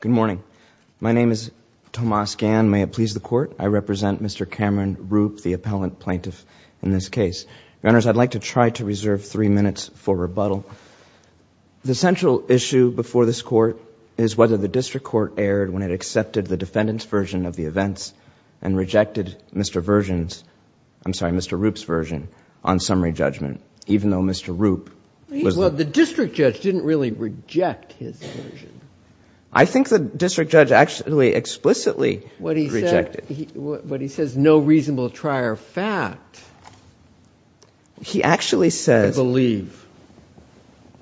Good morning. My name is Tomas Gann. May it please the Court, I represent Mr. Cameron Roupe, the appellant plaintiff in this case. Your Honors, I'd like to try to reserve three minutes for rebuttal. The central issue before this Court is whether the District Court erred when it accepted the defendant's version of the events and rejected Mr. Version's – I'm sorry, Mr. Roupe's version on summary judgment, even though Mr. Roupe was – I think the district judge actually explicitly rejected. But he says no reasonable trier fact. He actually says – I believe.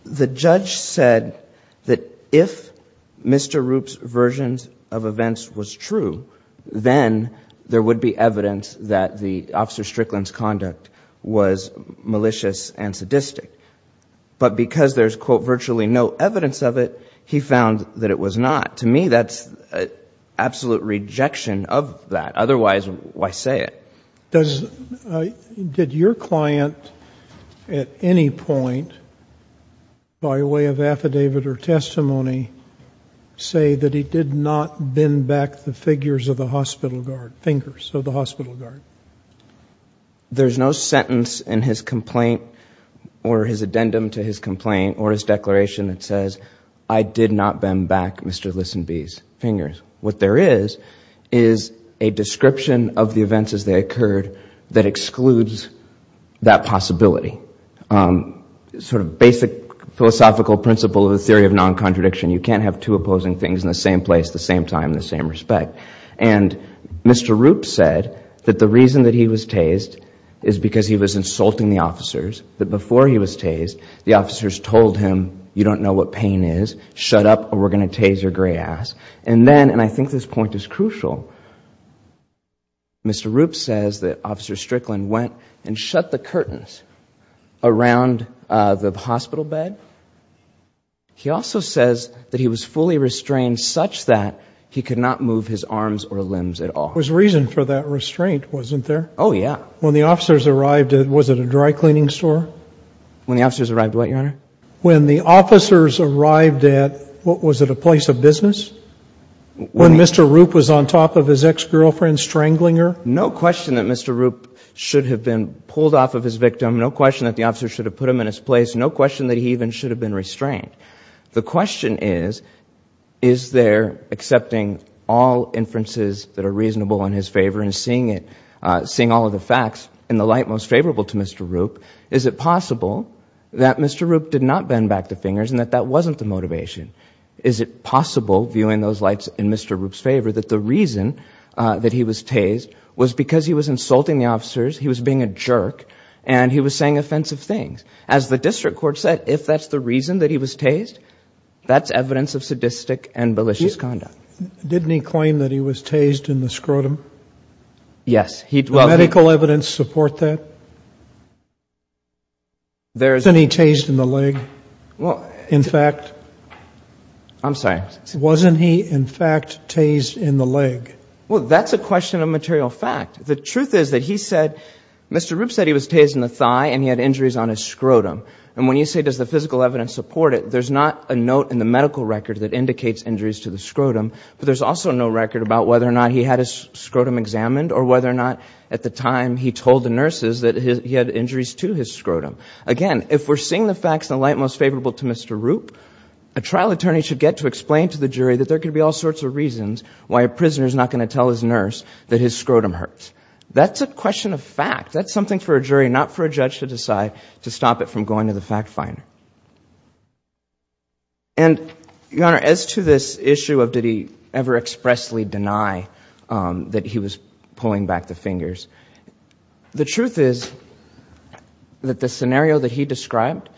The judge said that if Mr. Roupe's version of events was true, then there would be evidence that the – that Officer Strickland's conduct was malicious and sadistic. But because there's, quote, virtually no evidence of it, he found that it was not. To me, that's absolute rejection of that. Otherwise, why say it? Does – did your client at any point, by way of affidavit or testimony, say that he did not bend back the figures of the hospital guard – fingers of the hospital guard? There's no sentence in his complaint or his addendum to his complaint or his declaration that says, I did not bend back Mr. Listenbee's fingers. What there is is a description of the events as they occurred that excludes that possibility. Sort of basic philosophical principle of the theory of non-contradiction. You can't have two opposing things in the same place at the same time in the same respect. And Mr. Roupe said that the reason that he was tased is because he was insulting the officers, that before he was tased, the officers told him, you don't know what pain is. Shut up or we're going to tase your gray ass. And then, and I think this point is crucial, Mr. Roupe says that Officer Strickland went and shut the curtains around the hospital bed. He also says that he was fully restrained such that he could not move his arms or limbs at all. There was reason for that restraint, wasn't there? Oh, yeah. When the officers arrived, was it a dry cleaning store? When the officers arrived what, Your Honor? When the officers arrived at, what was it, a place of business? When Mr. Roupe was on top of his ex-girlfriend strangling her? No question that Mr. Roupe should have been pulled off of his victim. No question that the officer should have put him in his place. No question that he even should have been restrained. The question is, is there, accepting all inferences that are reasonable in his favor and seeing it, in the light most favorable to Mr. Roupe, is it possible that Mr. Roupe did not bend back the fingers and that that wasn't the motivation? Is it possible, viewing those lights in Mr. Roupe's favor, that the reason that he was tased was because he was insulting the officers, he was being a jerk, and he was saying offensive things? As the district court said, if that's the reason that he was tased, that's evidence of sadistic and malicious conduct. Didn't he claim that he was tased in the scrotum? Yes. Does the medical evidence support that? Wasn't he tased in the leg? In fact? I'm sorry. Wasn't he, in fact, tased in the leg? Well, that's a question of material fact. The truth is that he said, Mr. Roupe said he was tased in the thigh and he had injuries on his scrotum. And when you say, does the physical evidence support it, there's not a note in the medical record that indicates injuries to the scrotum, but there's also no record about whether or not he had his scrotum examined or whether or not, at the time, he told the nurses that he had injuries to his scrotum. Again, if we're seeing the facts in the light most favorable to Mr. Roupe, a trial attorney should get to explain to the jury that there could be all sorts of reasons why a prisoner is not going to tell his nurse that his scrotum hurts. That's a question of fact. That's something for a jury, not for a judge, to decide to stop it from going to the fact finder. And, Your Honor, as to this issue of did he ever expressly deny that he was pulling back the fingers, the truth is that the scenario that he described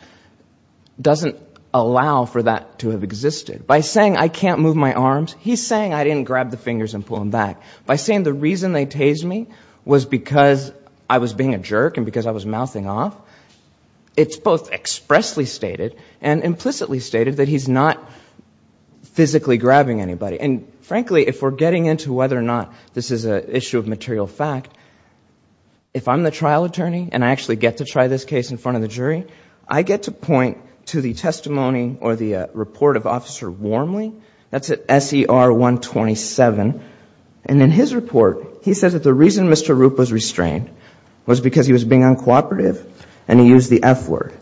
doesn't allow for that to have existed. By saying I can't move my arms, he's saying I didn't grab the fingers and pull them back. By saying the reason they tased me was because I was being a jerk and because I was mouthing off, it's both expressly stated and implicitly stated that he's not physically grabbing anybody. And, frankly, if we're getting into whether or not this is an issue of material fact, if I'm the trial attorney and I actually get to try this case in front of the jury, I get to point to the testimony or the report of Officer Warmly. That's at SER 127. And in his report, he says that the reason Mr. Rupp was restrained was because he was being uncooperative and he used the F word.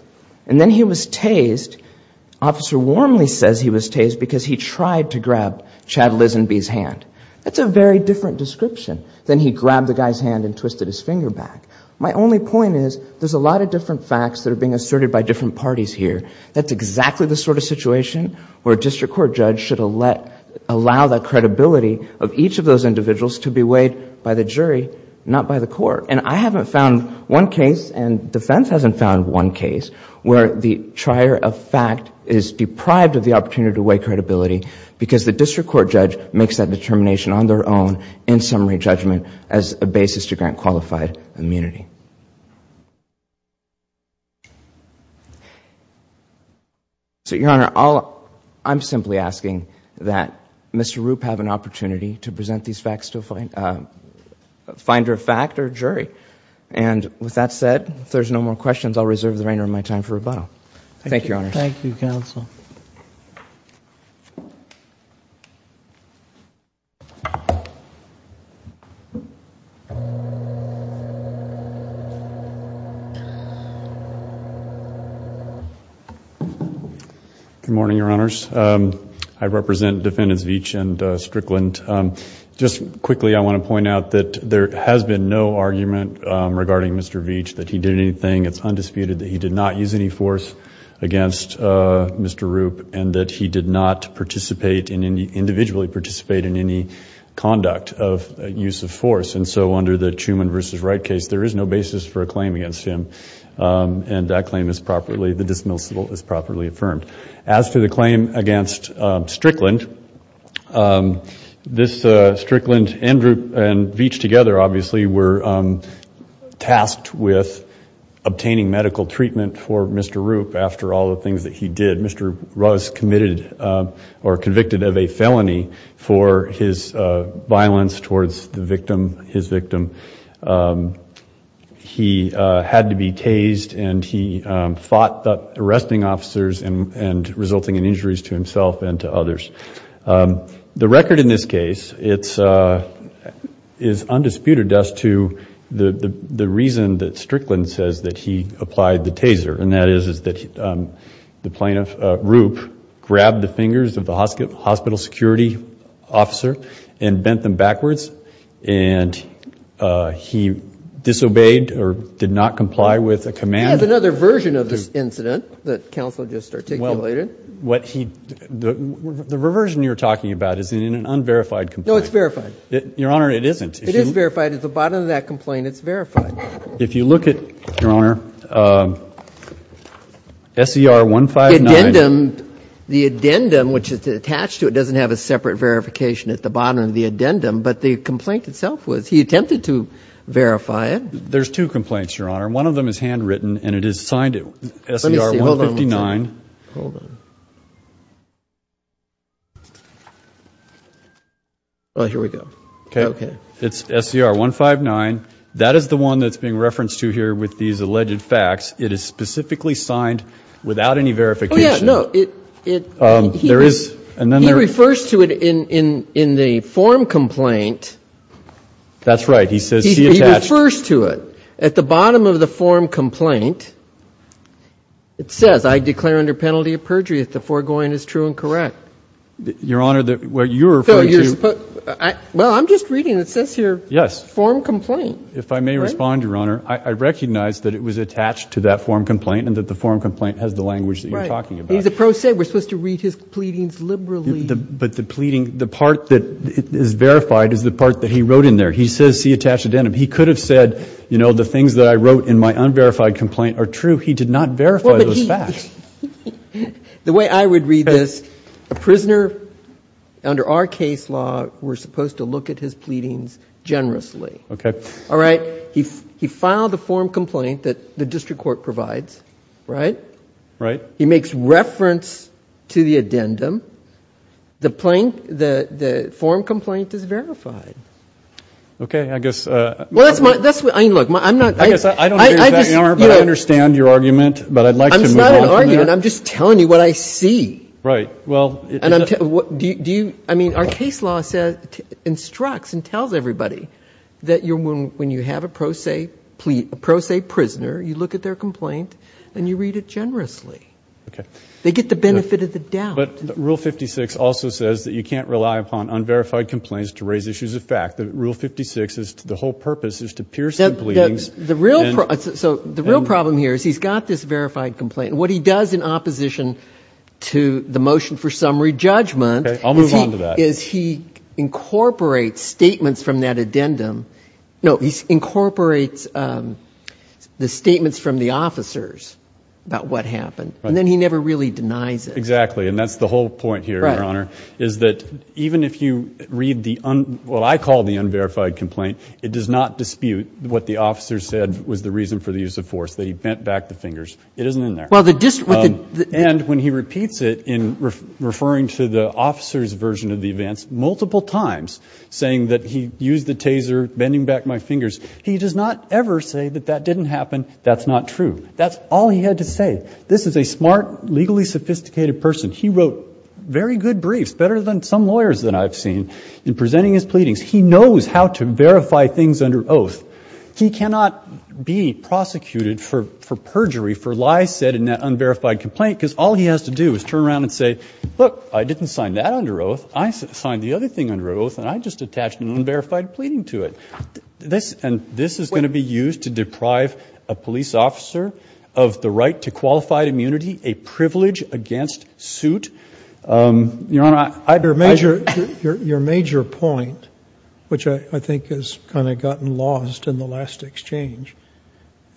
And then he was tased, Officer Warmly says he was tased because he tried to grab Chad Lizenby's hand. That's a very different description than he grabbed the guy's hand and twisted his finger back. My only point is there's a lot of different facts that are being asserted by different parties here. That's exactly the sort of situation where a district court judge should allow the credibility of each of those individuals to be weighed by the jury, not by the court. And I haven't found one case, and defense hasn't found one case, where the trier of fact is deprived of the opportunity to weigh credibility because the district court judge makes that determination on their own in summary judgment as a basis to grant qualified immunity. So, Your Honor, I'm simply asking that Mr. Rupp have an opportunity to present these facts to a finder of fact or jury. And with that said, if there's no more questions, I'll reserve the remainder of my time for rebuttal. Thank you, Your Honor. Thank you, Counsel. Thank you, Counsel. Good morning, Your Honors. I represent Defendants Veatch and Strickland. Just quickly, I want to point out that there has been no argument regarding Mr. Veatch that he did anything. It's undisputed that he did not use any force against Mr. Rupp and that he did not individually participate in any conduct of use of force. And so under the Truman v. Wright case, there is no basis for a claim against him. And that claim is properly, the dismissal is properly affirmed. As to the claim against Strickland, this Strickland and Veatch together, obviously, were tasked with obtaining medical treatment for Mr. Rupp after all the things that he did. Mr. Rupp was committed or convicted of a felony for his violence towards the victim, his victim. He had to be tased and he fought arresting officers and resulting in injuries to himself and to others. The record in this case is undisputed as to the reason that Strickland says that he applied the taser and that is that the plaintiff, Rupp, grabbed the fingers of the hospital security officer and bent them backwards and he disobeyed or did not comply with a command. He has another version of this incident that Counsel just articulated. The version you're talking about is in an unverified complaint. No, it's verified. Your Honor, it isn't. It is verified. At the bottom of that complaint, it's verified. If you look at, Your Honor, SCR 159. The addendum, which is attached to it, doesn't have a separate verification at the bottom of the addendum, but the complaint itself was he attempted to verify it. There's two complaints, Your Honor. One of them is handwritten and it is signed SCR 159. Hold on. Oh, here we go. Okay. It's SCR 159. That is the one that's being referenced to here with these alleged facts. It is specifically signed without any verification. Oh, yeah. No. He refers to it in the form complaint. That's right. He says he attached. He refers to it. At the bottom of the form complaint, it says, I declare under penalty of perjury if the foregoing is true and correct. Your Honor, what you're referring to. Well, I'm just reading it. It says here form complaint. If I may respond, Your Honor, I recognize that it was attached to that form complaint and that the form complaint has the language that you're talking about. Right. He's a pro se. We're supposed to read his pleadings liberally. But the part that is verified is the part that he wrote in there. He says he attached an addendum. He could have said, you know, the things that I wrote in my unverified complaint are true. He did not verify those facts. The way I would read this, a prisoner under our case law, we're supposed to look at his pleadings generously. Okay. All right. He filed a form complaint that the district court provides. Right? Right. He makes reference to the addendum. The form complaint is verified. Okay. I guess. Well, that's what I mean. Look, I'm not. I guess I don't agree with that, Your Honor, but I understand your argument, but I'd like to move on from there. I'm not arguing. I'm just telling you what I see. Right. Well. I mean, our case law instructs and tells everybody that when you have a pro se prisoner, you look at their complaint and you read it generously. Okay. They get the benefit of the doubt. But rule 56 also says that you can't rely upon unverified complaints to raise issues of fact. Rule 56, the whole purpose is to pierce the pleadings. So the real problem here is he's got this verified complaint. What he does in opposition to the motion for summary judgment. Okay. I'll move on to that. Is he incorporates statements from that addendum. No, he incorporates the statements from the officers about what happened. Right. And then he never really denies it. Exactly. And that's the whole point here, Your Honor, is that even if you read what I call the unverified complaint, it does not dispute what the officer said was the reason for the use of force, that he bent back the fingers. It isn't in there. And when he repeats it in referring to the officer's version of the events multiple times, saying that he used the taser, bending back my fingers, he does not ever say that that didn't happen. That's not true. That's all he had to say. This is a smart, legally sophisticated person. He wrote very good briefs, better than some lawyers that I've seen, in presenting his pleadings. He knows how to verify things under oath. He cannot be prosecuted for perjury, for lies said in that unverified complaint, because all he has to do is turn around and say, look, I didn't sign that under oath. I signed the other thing under oath, and I just attached an unverified pleading to it. And this is going to be used to deprive a police officer of the right to qualified immunity, a privilege against suit? Your Honor, I... Your major point, which I think has kind of gotten lost in the last exchange,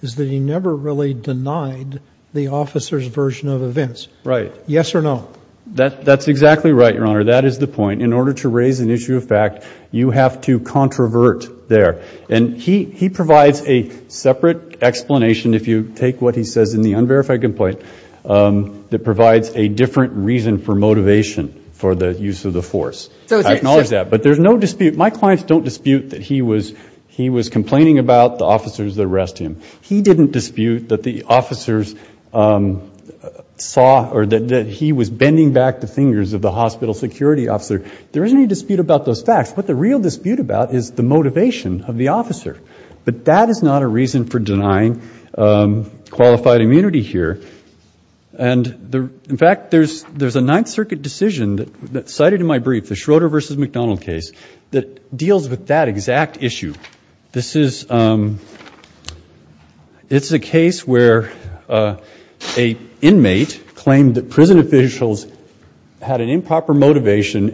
is that he never really denied the officer's version of events. Right. Yes or no? That's exactly right, Your Honor. That is the point. In order to raise an issue of fact, you have to controvert there. And he provides a separate explanation, if you take what he says in the unverified complaint, that provides a different reason for motivation for the use of the force. I acknowledge that. But there's no dispute. My clients don't dispute that he was complaining about the officers that arrested him. He didn't dispute that the officers saw or that he was bending back the fingers of the hospital security officer. There isn't any dispute about those facts. What the real dispute about is the motivation of the officer. But that is not a reason for denying qualified immunity here. And, in fact, there's a Ninth Circuit decision that's cited in my brief, the Schroeder v. McDonald case, that deals with that exact issue. This is a case where an inmate claimed that prison officials had an improper motivation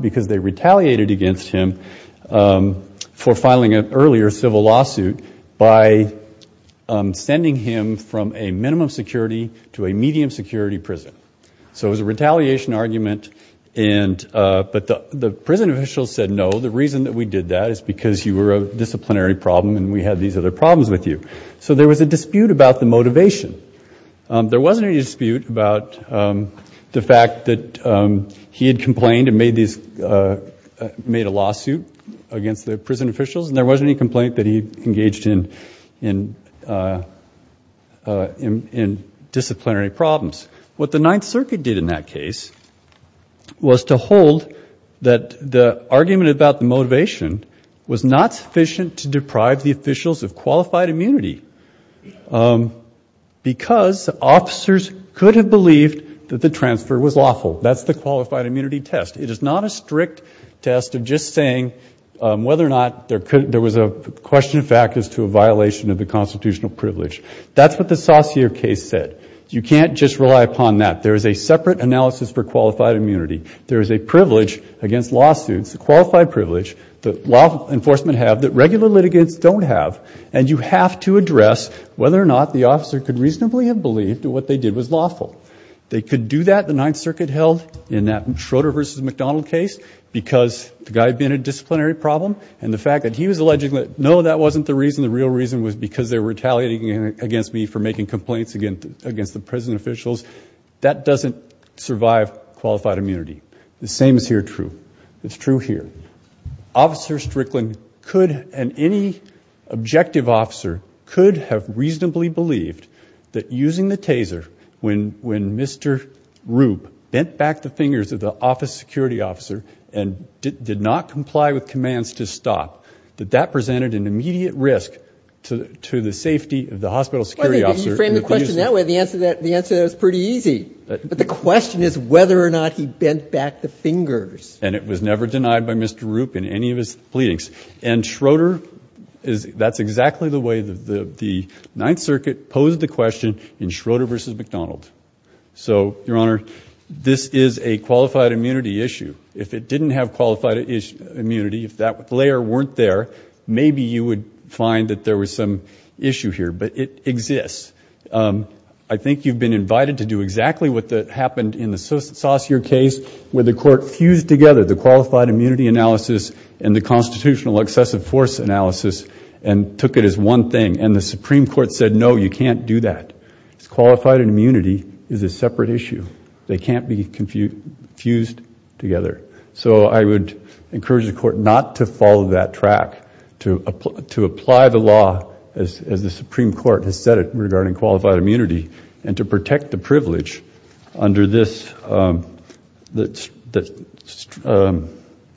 because they retaliated against him for filing an earlier civil lawsuit by sending him from a minimum security to a medium security prison. So it was a retaliation argument. But the prison officials said, no, the reason that we did that is because you were a disciplinary problem and we had these other problems with you. So there was a dispute about the motivation. There wasn't any dispute about the fact that he had complained and made a lawsuit against the prison officials, and there wasn't any complaint that he engaged in disciplinary problems. What the Ninth Circuit did in that case was to hold that the argument about the motivation was not sufficient to deprive the officials of qualified immunity because officers could have believed that the transfer was lawful. That's the qualified immunity test. It is not a strict test of just saying whether or not there was a question of fact as to a violation of the constitutional privilege. That's what the Saussure case said. You can't just rely upon that. There is a separate analysis for qualified immunity. There is a privilege against lawsuits, a qualified privilege that law enforcement have that regular litigants don't have, and you have to address whether or not the officer could reasonably have believed that what they did was lawful. They could do that, the Ninth Circuit held, in that Schroeder v. McDonald case because the guy had been a disciplinary problem, and the fact that he was alleging that, no, that wasn't the reason, the real reason was because they were retaliating against me for making complaints against the prison officials, that doesn't survive qualified immunity. The same is here true. It's true here. Officer Strickland could, and any objective officer, could have reasonably believed that using the taser, when Mr. Rupp bent back the fingers of the office security officer and did not comply with commands to stop, that that presented an immediate risk to the safety of the hospital security officer. You framed the question that way. The answer to that was pretty easy. But the question is whether or not he bent back the fingers. And it was never denied by Mr. Rupp in any of his pleadings. And Schroeder, that's exactly the way the Ninth Circuit posed the question in Schroeder v. McDonald. So, Your Honor, this is a qualified immunity issue. If it didn't have qualified immunity, if that layer weren't there, maybe you would find that there was some issue here. But it exists. I think you've been invited to do exactly what happened in the Saussure case where the court fused together the qualified immunity analysis and the constitutional excessive force analysis and took it as one thing. And the Supreme Court said, no, you can't do that. Qualified immunity is a separate issue. They can't be fused together. So I would encourage the court not to follow that track, to apply the law as the Supreme Court has said it regarding qualified immunity and to protect the privilege under this that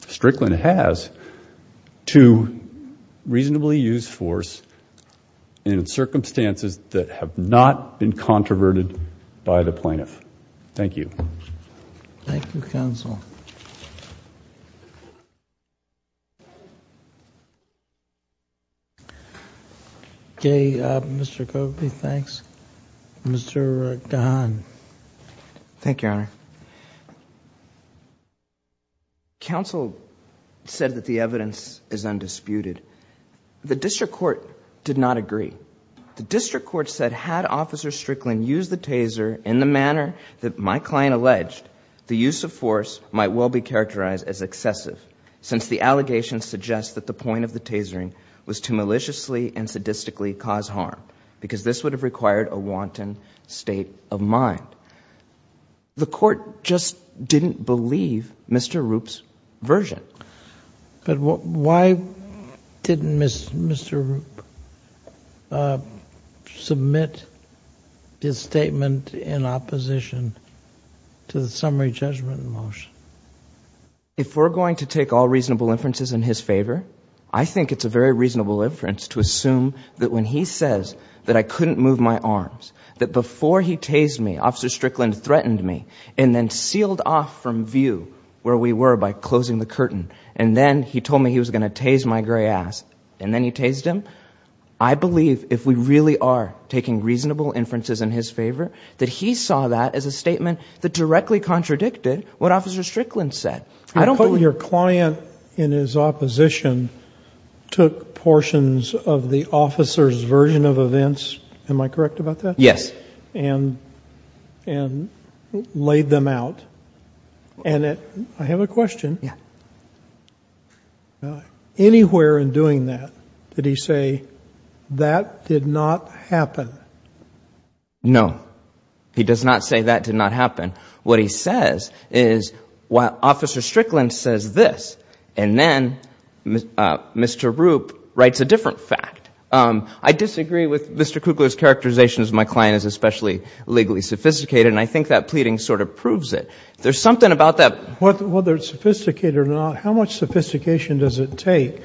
Strickland has to reasonably use force in circumstances that have not been controverted by the plaintiff. Thank you. Thank you, counsel. Okay, Mr. Covey, thanks. Mr. Gahan. Thank you, Your Honor. Counsel said that the evidence is undisputed. The district court did not agree. The district court said had Officer Strickland used the taser in the manner that my client alleged, the use of force might well be characterized as excessive since the allegation suggests that the point of the tasering was to maliciously and sadistically cause harm because this would have required a wanton state of mind. The court just didn't believe Mr. Rupp's version. But why didn't Mr. Rupp submit his statement in opposition to the summary judgment motion? If we're going to take all reasonable inferences in his favor, I think it's a very reasonable inference to assume that when he says that I couldn't move my arms, that before he tased me, Officer Strickland threatened me and then sealed off from view where we were by closing the curtain. And then he told me he was going to tase my gray ass. And then he tased him? I believe if we really are taking reasonable inferences in his favor, that he saw that as a statement that directly contradicted what Officer Strickland said. Your client, in his opposition, took portions of the officer's version of events. Am I correct about that? Yes. And laid them out. And I have a question. Anywhere in doing that, did he say that did not happen? No. He does not say that did not happen. What he says is, well, Officer Strickland says this, and then Mr. Rupp writes a different fact. I disagree with Mr. Kugler's characterization, as my client is especially legally sophisticated, and I think that pleading sort of proves it. There's something about that. Whether it's sophisticated or not, how much sophistication does it take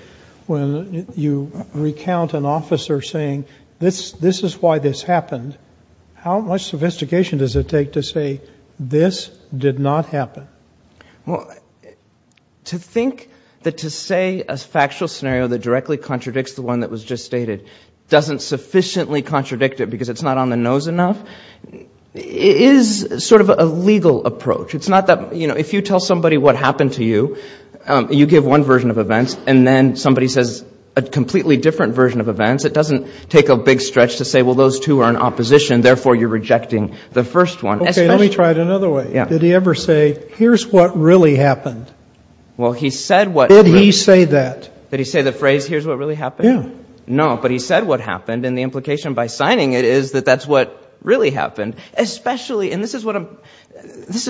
when you recount an officer saying, this is why this happened? How much sophistication does it take to say this did not happen? Well, to think that to say a factual scenario that directly contradicts the one that was just stated doesn't sufficiently contradict it because it's not on the nose enough is sort of a legal approach. It's not that, you know, if you tell somebody what happened to you, you give one version of events, and then somebody says a completely different version of events, it doesn't take a big stretch to say, well, those two are in opposition, therefore you're rejecting the first one. Okay. Let me try it another way. Did he ever say, here's what really happened? Well, he said what really happened. Did he say that? Did he say the phrase, here's what really happened? Yeah. No, but he said what happened, and the implication by signing it is that that's what really happened, especially, and this is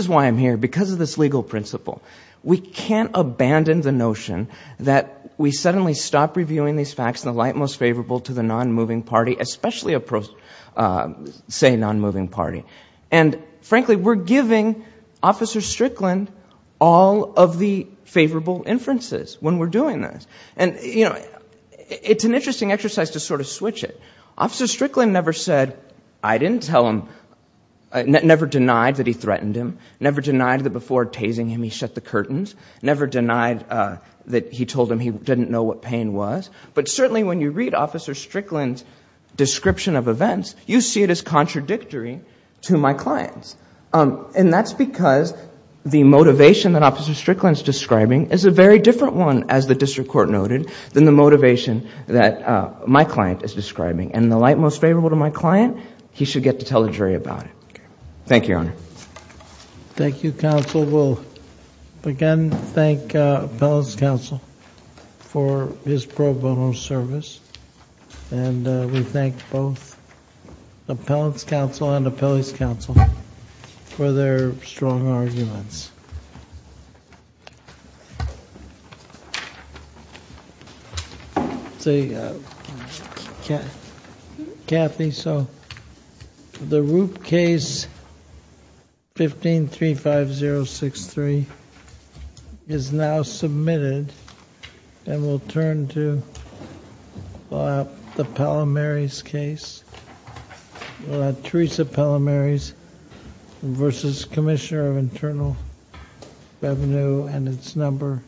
why I'm here, because of this legal principle. We can't abandon the notion that we suddenly stop reviewing these facts in the light most favorable to the non-moving party, especially a, say, non-moving party. And, frankly, we're giving Officer Strickland all of the favorable inferences when we're doing this. And, you know, it's an interesting exercise to sort of switch it. Officer Strickland never said, I didn't tell him, never denied that he threatened him, never denied that before tasing him he shut the curtains, never denied that he told him he didn't know what pain was, but certainly when you read Officer Strickland's description of events, you see it as contradictory to my client's. And that's because the motivation that Officer Strickland's describing is a very different one, as the district court noted, than the motivation that my client is describing. And in the light most favorable to my client, he should get to tell the jury about it. Thank you, Your Honor. Thank you, counsel. We'll again thank Appellant's counsel for his pro bono service, and we thank both Appellant's counsel and Appellant's counsel for their strong arguments. Thank you. Kathy, so the Roop case 1535063 is now submitted, and we'll turn to the Palomares case. We'll have Teresa Palomares v. Commissioner of Internal Revenue and it's number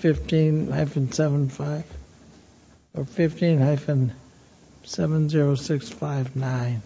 15-75 or 15-70659.